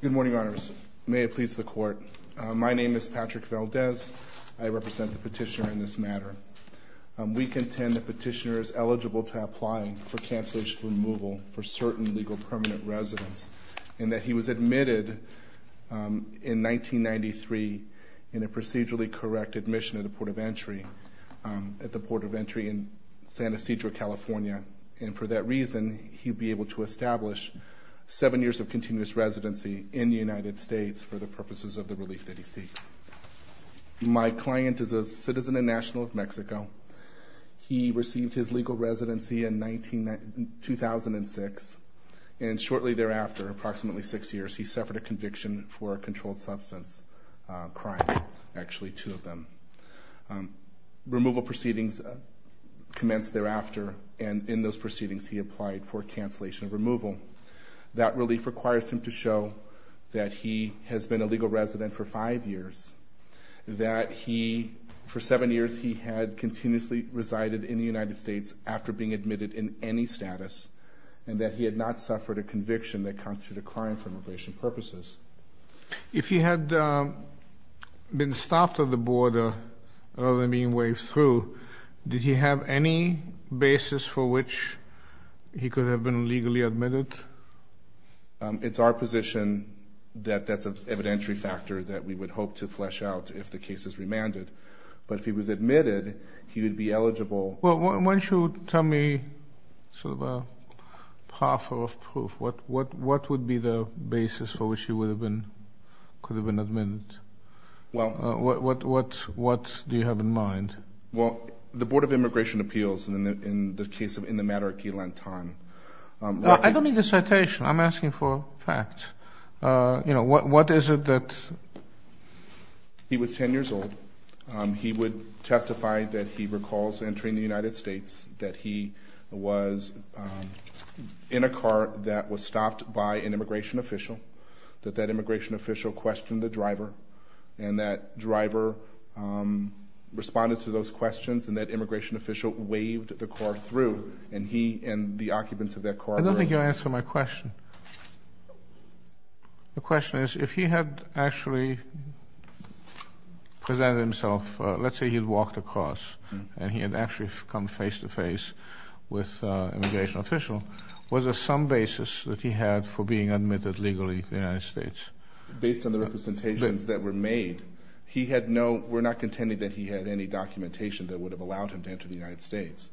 Good morning, honors. May it please the court. My name is Patrick Valdez. I represent the petitioner in this matter. We contend the petitioner is eligible to apply for cancellation removal for certain legal permanent residence and that he was admitted in 1993 in a procedurally correct admission at the Port of Entry in San Ysidro, California. And for that reason, he'd be able to establish seven years of continuous residency in the United States for the purposes of the relief that he seeks. My client is a citizen and national of Mexico. He received his legal residency in 2006. And shortly thereafter, approximately six years, he suffered a conviction for a controlled substance crime, actually two of them. Removal proceedings commenced thereafter, and in those proceedings, he applied for cancellation of removal. That relief requires him to show that he has been a legal resident for five years, that he, for seven years, he had continuously resided in the United States after being admitted in any status, and that he had not suffered a conviction that constituted a crime for immigration purposes. If he had been stopped at the border rather than being waved through, did he have any basis for which he could have been legally admitted? It's our position that that's an evidentiary factor that we would hope to flesh out if the case is remanded. But if he was admitted, he would be eligible. Well, why don't you tell me sort of a proffer of proof. What would be the basis for which he could have been admitted? What do you have in mind? Well, the Board of Immigration Appeals, in the case of in the matter of key length time. I don't mean the citation. I'm asking for facts. You know, what is it that? He was 10 years old. He would testify that he recalls entering the United States, that he was in a car that was stopped by an immigration official, that that immigration official questioned the driver, and that driver responded to those questions, and that immigration official waved the car through, and he and the occupants of that car were. I don't think you answered my question. The question is, if he had actually presented himself, let's say he had walked across, and he had actually come face to face with an immigration official, was there some basis that he had for being admitted legally to the United States? Based on the representations that were made, he had no, we're not contending that he had any documentation that would have allowed him to enter the United States.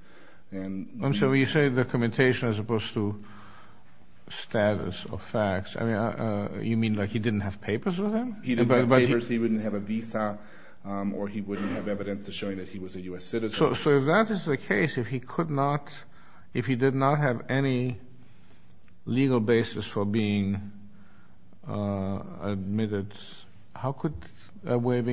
And so you say documentation as opposed to status or facts. I mean, you mean like he didn't have papers with him? He didn't have papers. He wouldn't have a visa, or he wouldn't have evidence to show that he was a U.S. citizen. So if that is the case, if he could not, if he did not have any legal basis for being admitted, How could that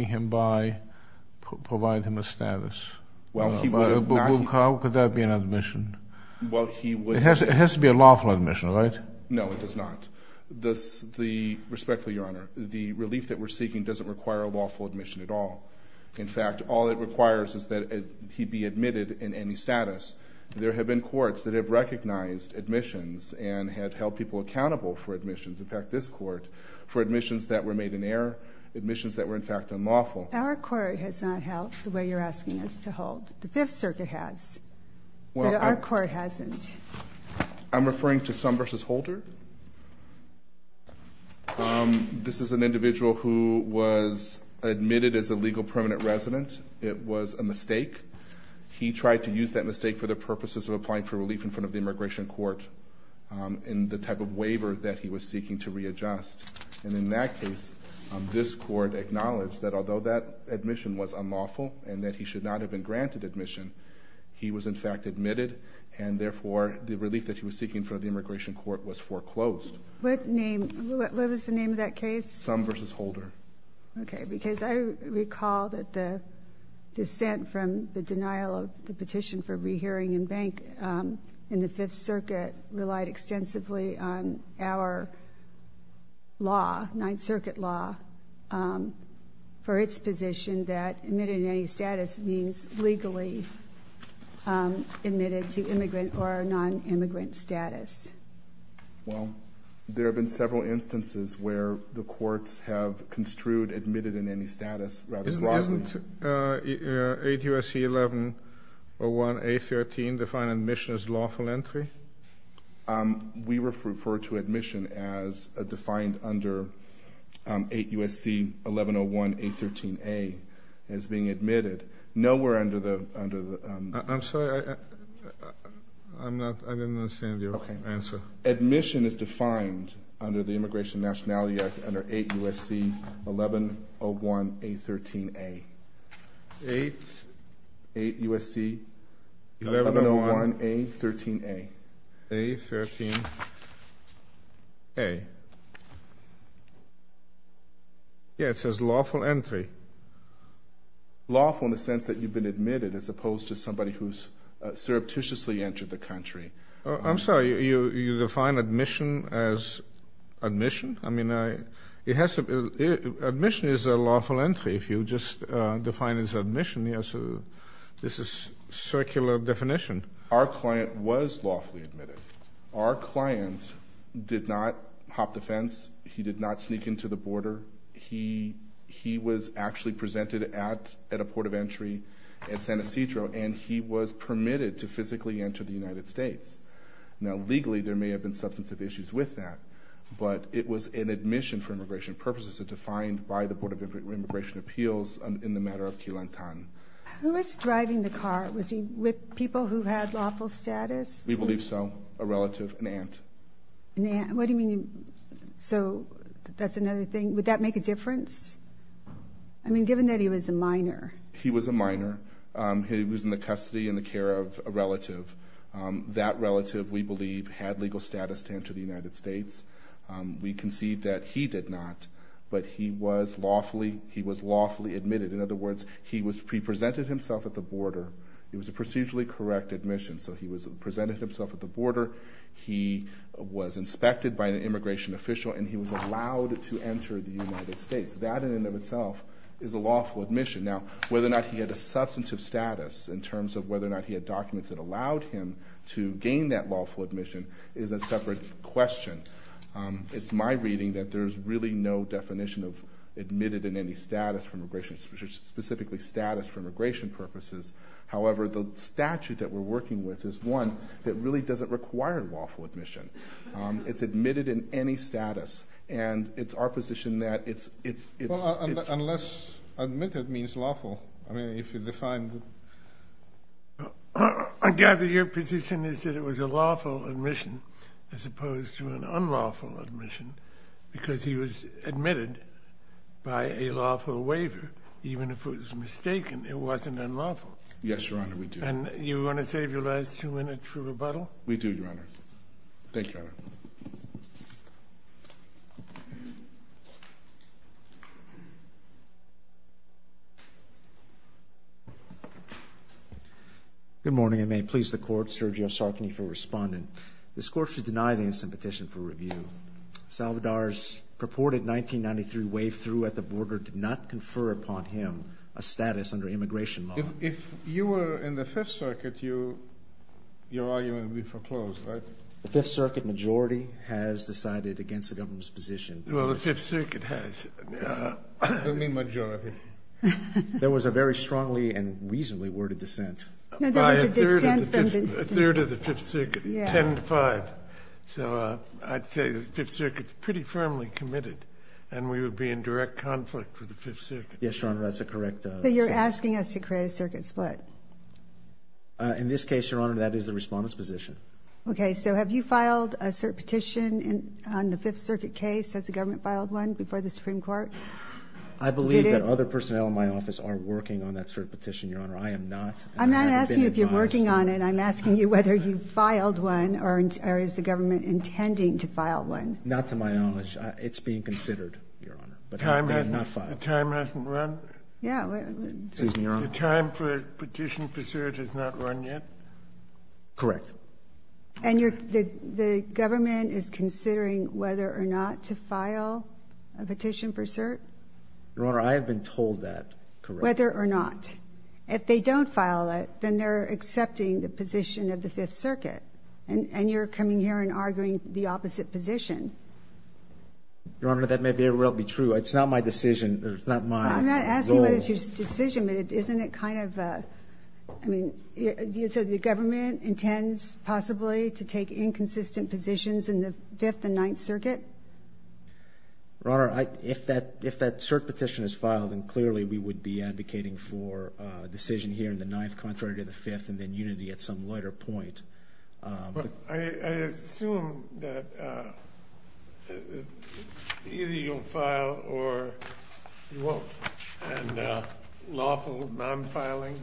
be an admission? It has to be a lawful admission, right? No, it does not. Respectfully, Your Honor, the relief that we're seeking doesn't require a lawful admission at all. In fact, all it requires is that he be admitted in any status. There have been courts that have recognized admissions and had held people accountable for admissions. In fact, this court, for admissions that were made in error, admissions that were in fact unlawful. Well, our court has not held the way you're asking us to hold. The Fifth Circuit has, but our court hasn't. I'm referring to Summers' Holder. This is an individual who was admitted as a legal permanent resident. It was a mistake. He tried to use that mistake for the purposes of applying for relief in front of the immigration court in the type of waiver that he was seeking to readjust. And in that case, this court acknowledged that although that admission was unlawful and that he should not have been granted admission, he was in fact admitted, and therefore the relief that he was seeking in front of the immigration court was foreclosed. What name, what was the name of that case? Summers' Holder. Okay, because I recall that the dissent from the denial of the petition for rehearing in bank in the Fifth Circuit relied extensively on our law, Ninth Circuit law, for its position that admitted in any status means legally admitted to immigrant or non-immigrant status. Well, there have been several instances where the courts have construed admitted in any status rather broadly. Did 8 U.S.C. 1101A13 define admission as lawful entry? We refer to admission as defined under 8 U.S.C. 1101A13A as being admitted. Nowhere under the ‑‑ I'm sorry, I didn't understand your answer. Admission is defined under the Immigration Nationality Act under 8 U.S.C. 1101A13A. 8? 8 U.S.C. 1101A13A. A13A. Yeah, it says lawful entry. Lawful in the sense that you've been admitted as opposed to somebody who's surreptitiously entered the country. I'm sorry, you define admission as admission? I mean, admission is a lawful entry. If you just define it as admission, this is circular definition. Our client was lawfully admitted. Our client did not hop the fence. He did not sneak into the border. He was actually presented at a port of entry at San Ysidro, and he was permitted to physically enter the United States. Now, legally, there may have been substantive issues with that, but it was an admission for immigration purposes as defined by the Board of Immigration Appeals in the matter of Key Lantan. Who was driving the car? Was he with people who had lawful status? We believe so. A relative, an aunt. What do you mean? So that's another thing. Would that make a difference? I mean, given that he was a minor. He was a minor. He was in the custody and the care of a relative. That relative, we believe, had legal status to enter the United States. We concede that he did not, but he was lawfully admitted. In other words, he presented himself at the border. It was a procedurally correct admission. So he presented himself at the border. He was inspected by an immigration official, and he was allowed to enter the United States. That, in and of itself, is a lawful admission. Now, whether or not he had a substantive status in terms of whether or not he had documents that allowed him to gain that lawful admission is a separate question. It's my reading that there's really no definition of admitted in any status for immigration, specifically status for immigration purposes. However, the statute that we're working with is one that really doesn't require lawful admission. It's admitted in any status, and it's our position that it's... Admitted means lawful. I mean, if you define the... I gather your position is that it was a lawful admission as opposed to an unlawful admission because he was admitted by a lawful waiver, even if it was mistaken it wasn't unlawful. Yes, Your Honor, we do. And you want to save your last two minutes for rebuttal? We do, Your Honor. Thank you, Your Honor. Good morning, and may it please the Court. Sergio Sarkany for Respondent. This Court should deny the instant petition for review. Salvador's purported 1993 wave-through at the border did not confer upon him a status under immigration law. If you were in the Fifth Circuit, your argument would be foreclosed, right? The Fifth Circuit majority has decided against the government's position. Well, the Fifth Circuit has. I don't mean majority. There was a very strongly and reasonably worded dissent. No, there was a dissent from the Fifth Circuit. A third of the Fifth Circuit, 10 to 5. So I'd say the Fifth Circuit's pretty firmly committed, and we would be in direct conflict with the Fifth Circuit. Yes, Your Honor, that's a correct statement. But you're asking us to create a circuit split. In this case, Your Honor, that is the Respondent's position. Okay, so have you filed a cert petition on the Fifth Circuit case as the government filed one before the Supreme Court? I believe that other personnel in my office are working on that cert petition, Your Honor. I am not. I'm not asking if you're working on it. I'm asking you whether you filed one or is the government intending to file one. Not to my knowledge. It's being considered, Your Honor. The time hasn't run? Yeah. Excuse me, Your Honor. The time for a petition for cert has not run yet? Correct. And the government is considering whether or not to file a petition for cert? Your Honor, I have been told that, correct. Whether or not. If they don't file it, then they're accepting the position of the Fifth Circuit, and you're coming here and arguing the opposite position. Your Honor, that may very well be true. It's not my decision. It's not my role. I'm not asking whether it's your decision, but isn't it kind of a, I mean, so the government intends possibly to take inconsistent positions in the Fifth and Ninth Circuit? Your Honor, if that cert petition is filed, then clearly we would be advocating for a decision here in the Ninth contrary to the Fifth and then unity at some later point. I assume that either you'll file or you won't. And lawful non-filing,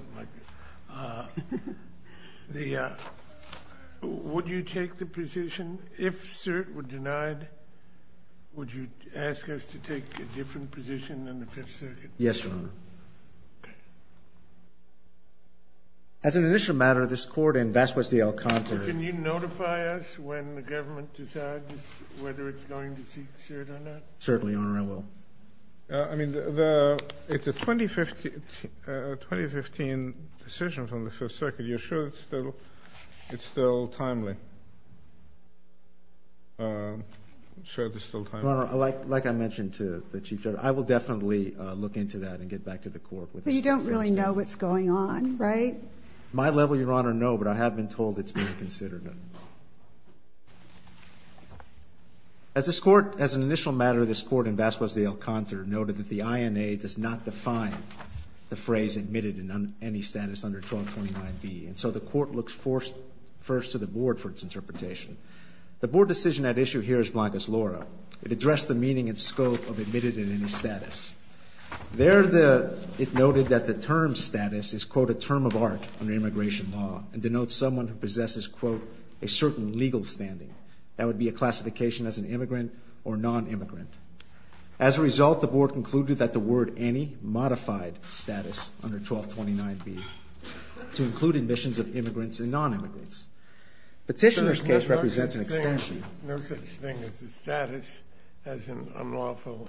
would you take the position if cert were denied, would you ask us to take a different position than the Fifth Circuit? Yes, Your Honor. Okay. As an initial matter, this Court in vast parts of the El Conte. Can you notify us when the government decides whether it's going to seek cert or not? Certainly, Your Honor, I will. I mean, it's a 2015 decision from the Fifth Circuit. You're sure it's still timely? Your Honor, like I mentioned to the Chief Justice, I will definitely look into that and get back to the Court. But you don't really know what's going on, right? My level, Your Honor, no, but I have been told it's being considered. As an initial matter, this Court in vast parts of the El Conte noted that the INA does not define the phrase admitted in any status under 1229B, and so the Court looks first to the Board for its interpretation. The Board decision at issue here is blank as Laura. It addressed the meaning and scope of admitted in any status. There it noted that the term status is, quote, a term of art under immigration law and denotes someone who possesses, quote, a certain legal standing. That would be a classification as an immigrant or nonimmigrant. As a result, the Board concluded that the word any modified status under 1229B to include admissions of immigrants and nonimmigrants. Petitioner's case represents an extension. There's no such thing as a status as an unlawful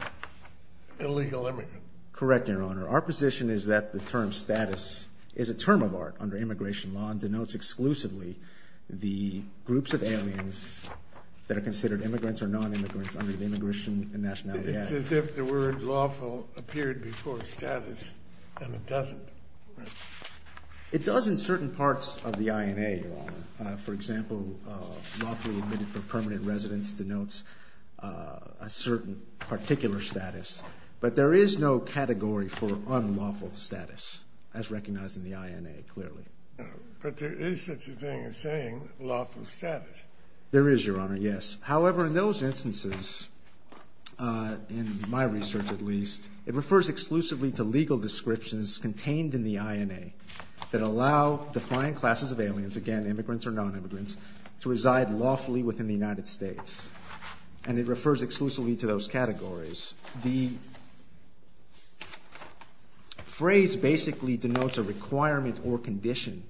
illegal immigrant. Correct, Your Honor. Our position is that the term status is a term of art under immigration law and denotes exclusively the groups of aliens that are considered immigrants or nonimmigrants under the Immigration and Nationality Act. It's as if the word lawful appeared before status, and it doesn't. It does in certain parts of the INA, Your Honor. For example, lawfully admitted for permanent residence denotes a certain particular status, but there is no category for unlawful status as recognized in the INA, clearly. But there is such a thing as saying lawful status. There is, Your Honor, yes. However, in those instances, in my research at least, it refers exclusively to legal descriptions contained in the INA that allow defiant classes of aliens, again, immigrants or nonimmigrants, to reside lawfully within the United States, and it refers exclusively to those categories. The phrase basically denotes a requirement or condition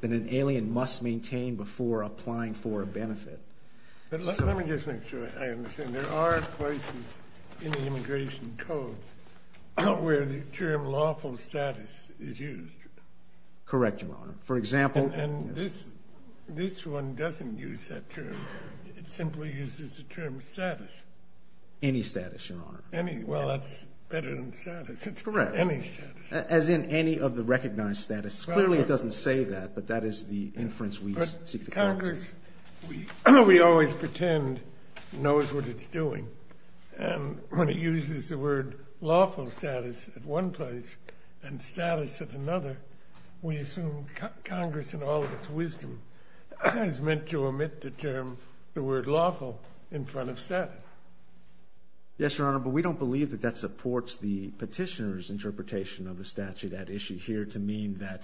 that an alien must maintain before applying for a benefit. Let me just make sure I understand. There are places in the Immigration Code where the term lawful status is used. Correct, Your Honor. And this one doesn't use that term. It simply uses the term status. Any status, Your Honor. Well, that's better than status. It's correct. Any status. As in any of the recognized status. Clearly it doesn't say that, but that is the inference we seek to correct. Congress, we always pretend it knows what it's doing, and when it uses the word lawful status at one place and status at another, we assume Congress, in all of its wisdom, has meant to omit the term, the word lawful, in front of status. Yes, Your Honor, but we don't believe that that supports the petitioner's interpretation of the statute at issue here to mean that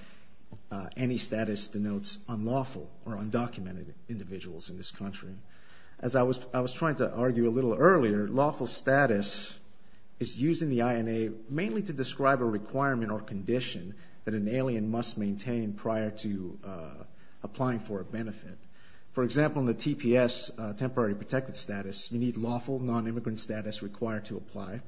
any status denotes unlawful or undocumented individuals in this country. As I was trying to argue a little earlier, lawful status is used in the INA mainly to describe a requirement or condition that an alien must maintain prior to applying for a benefit. For example, in the TPS, temporary protected status, you need lawful nonimmigrant status required to apply.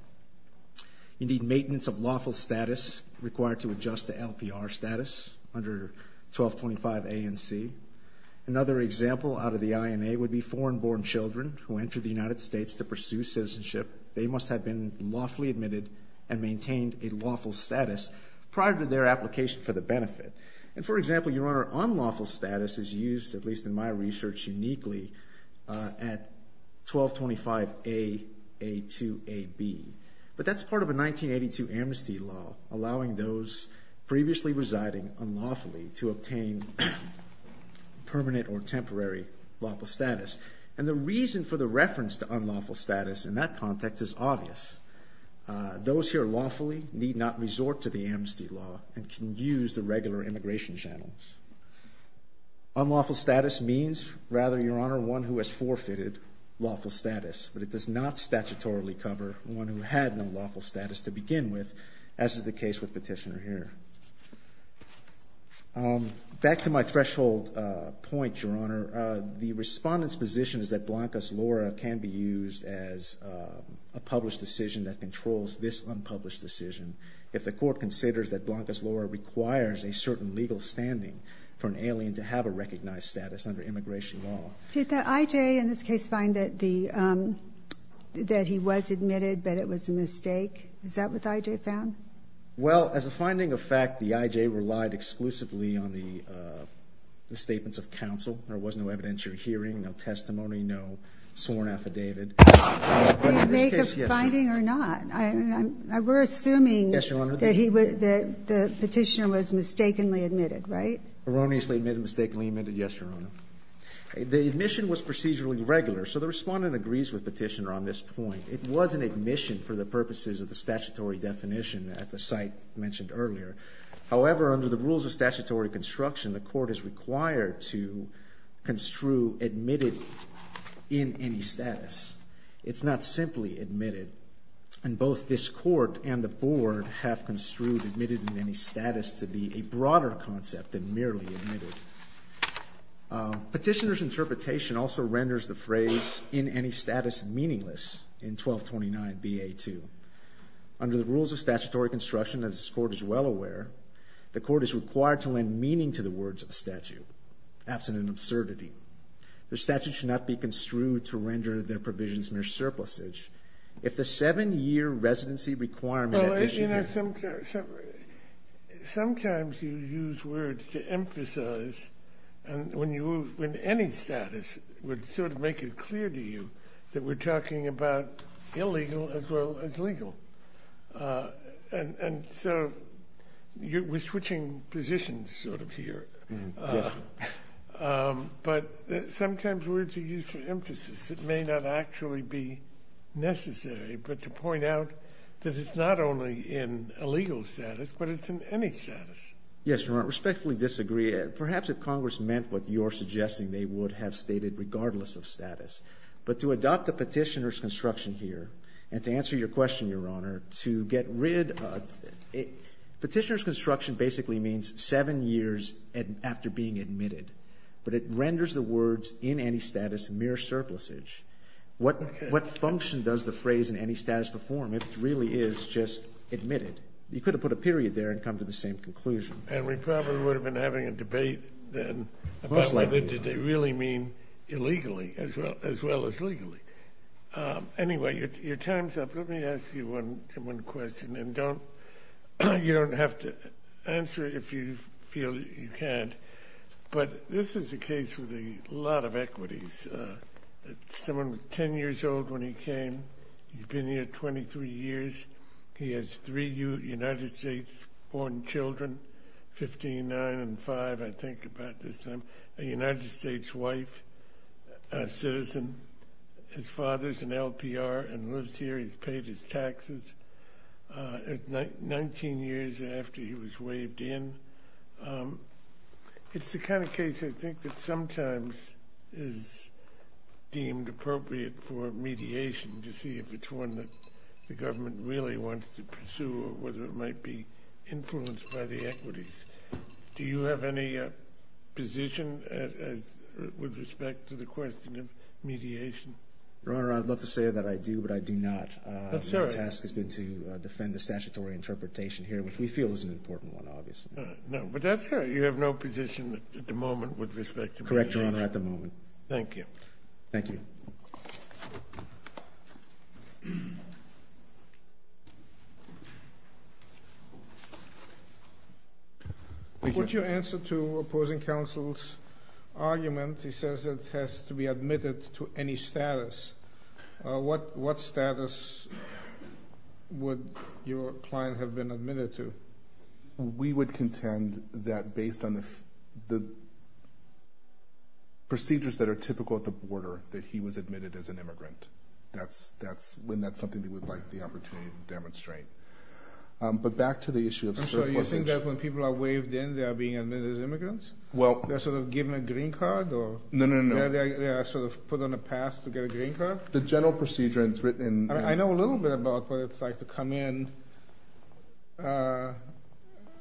You need maintenance of lawful status required to adjust to LPR status under 1225 A and C. Another example out of the INA would be foreign-born children who enter the United States to pursue citizenship. They must have been lawfully admitted and maintained a lawful status prior to their application for the benefit. And, for example, Your Honor, unlawful status is used, at least in my research, uniquely at 1225 A, A2, AB. But that's part of a 1982 amnesty law allowing those previously residing unlawfully to obtain permanent or temporary lawful status. And the reason for the reference to unlawful status in that context is obvious. Those here lawfully need not resort to the amnesty law and can use the regular immigration channels. Unlawful status means, rather, Your Honor, one who has forfeited lawful status, but it does not statutorily cover one who had no lawful status to begin with, as is the case with Petitioner here. Back to my threshold point, Your Honor, the Respondent's position is that Blancas Lora can be used as a published decision that controls this unpublished decision. If the Court considers that Blancas Lora requires a certain legal standing for an alien to have a recognized status under immigration law. Did the I.J. in this case find that he was admitted, but it was a mistake? Is that what the I.J. found? Well, as a finding of fact, the I.J. relied exclusively on the statements of counsel. There was no evidentiary hearing, no testimony, no sworn affidavit. In this case, yes. But it's not. We're assuming that Petitioner was mistakenly admitted, right? Erroneously admitted, mistakenly admitted, yes, Your Honor. The admission was procedurally regular, so the Respondent agrees with Petitioner on this point. It was an admission for the purposes of the statutory definition at the site mentioned earlier. However, under the rules of statutory construction, the Court is required to construe admitted in any status. It's not simply admitted. And both this Court and the Board have construed admitted in any status to be a broader concept than merely admitted. Petitioner's interpretation also renders the phrase in any status meaningless in 1229 B.A. 2. Under the rules of statutory construction, as this Court is well aware, the Court is required to lend meaning to the words of a statute, absent an absurdity. The statute should not be construed to render their provisions mere surplusage. If the seven-year residency requirement is issued... Sometimes you use words to emphasize when any status would sort of make it clear to you that we're talking about illegal as well as legal. And so we're switching positions sort of here. But sometimes words are used for emphasis. It may not actually be necessary, but to point out that it's not only in illegal status, but it's in any status. Yes, Your Honor. I respectfully disagree. Perhaps if Congress meant what you're suggesting, they would have stated regardless of status. But to adopt the petitioner's construction here, and to answer your question, Your Honor, to get rid of it, petitioner's construction basically means seven years after being admitted. But it renders the words in any status mere surplusage. What function does the phrase in any status perform if it really is just admitted? You could have put a period there and come to the same conclusion. And we probably would have been having a debate then about whether they really mean illegally as well as legally. Anyway, your time's up. Let me ask you one question. You don't have to answer if you feel you can't. But this is a case with a lot of equities. Someone was 10 years old when he came. He's been here 23 years. He has three United States-born children, 15, 9, and 5, I think, about this time. A United States wife, a citizen. His father's an LPR and lives here. He's paid his taxes 19 years after he was waived in. It's the kind of case, I think, that sometimes is deemed appropriate for mediation to see if it's one that the government really wants to pursue or whether it might be influenced by the equities. Do you have any position with respect to the question of mediation? Your Honor, I'd love to say that I do, but I do not. That's all right. My task has been to defend the statutory interpretation here, which we feel is an important one, obviously. No, but that's all right. You have no position at the moment with respect to mediation? Correct, Your Honor, at the moment. Thank you. Thank you. Thank you. What's your answer to opposing counsel's argument? He says it has to be admitted to any status. What status would your client have been admitted to? We would contend that based on the procedures that are typical at the border, that he was admitted as an immigrant, when that's something they would like the opportunity to demonstrate. But back to the issue of surplusage. So you think that when people are waived in, they are being admitted as immigrants? Well. They're sort of given a green card? No, no, no. They are sort of put on a pass to get a green card? The general procedure is written in. I know a little bit about what it's like to come in as an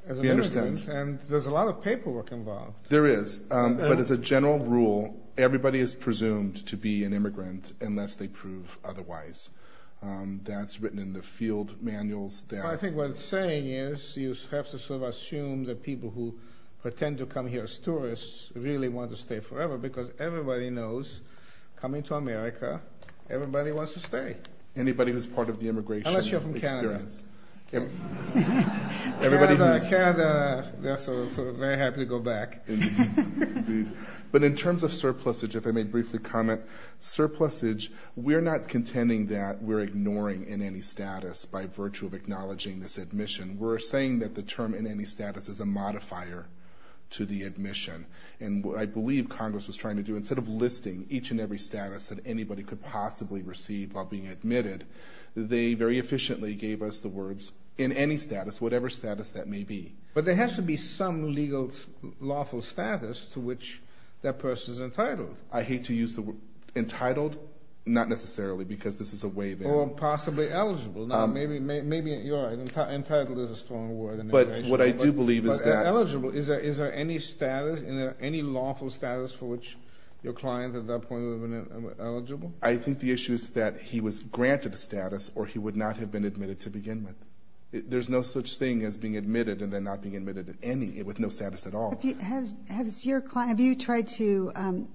immigrant. We understand. And there's a lot of paperwork involved. There is. But as a general rule, everybody is presumed to be an immigrant unless they prove otherwise. That's written in the field manuals. I think what it's saying is you have to sort of assume that people who pretend to come here as tourists really want to stay forever because everybody knows, coming to America, everybody wants to stay. Anybody who's part of the immigration experience. Unless you're from Canada. Canada, they're sort of very happy to go back. But in terms of surplusage, if I may briefly comment, surplusage, we're not contending that we're ignoring in any status by virtue of acknowledging this admission. We're saying that the term in any status is a modifier to the admission. And what I believe Congress was trying to do, instead of listing each and every status that anybody could possibly receive while being admitted, they very efficiently gave us the words in any status, whatever status that may be. But there has to be some legal lawful status to which that person is entitled. I hate to use the word entitled. Not necessarily because this is a way that. Or possibly eligible. Maybe you're right. Entitled is a strong word. But what I do believe is that. But eligible. Is there any status, any lawful status for which your client at that point would have been eligible? I think the issue is that he was granted a status or he would not have been admitted to begin with. There's no such thing as being admitted and then not being admitted at any, with no status at all. Have you tried to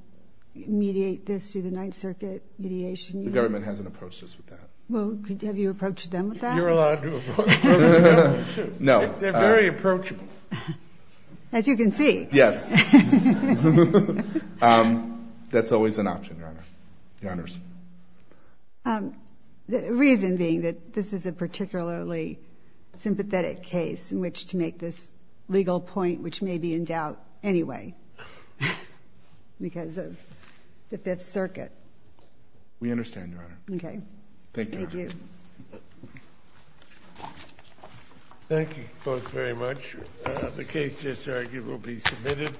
mediate this through the Ninth Circuit mediation? The government hasn't approached us with that. Well, have you approached them with that? You're allowed to approach the government, too. No. They're very approachable. As you can see. Yes. That's always an option, Your Honor. Your Honors. The reason being that this is a particularly sympathetic case in which to make this legal point, which may be in doubt anyway. Because of the Fifth Circuit. We understand, Your Honor. Okay. Thank you. Thank you both very much. The case just argued will be submitted.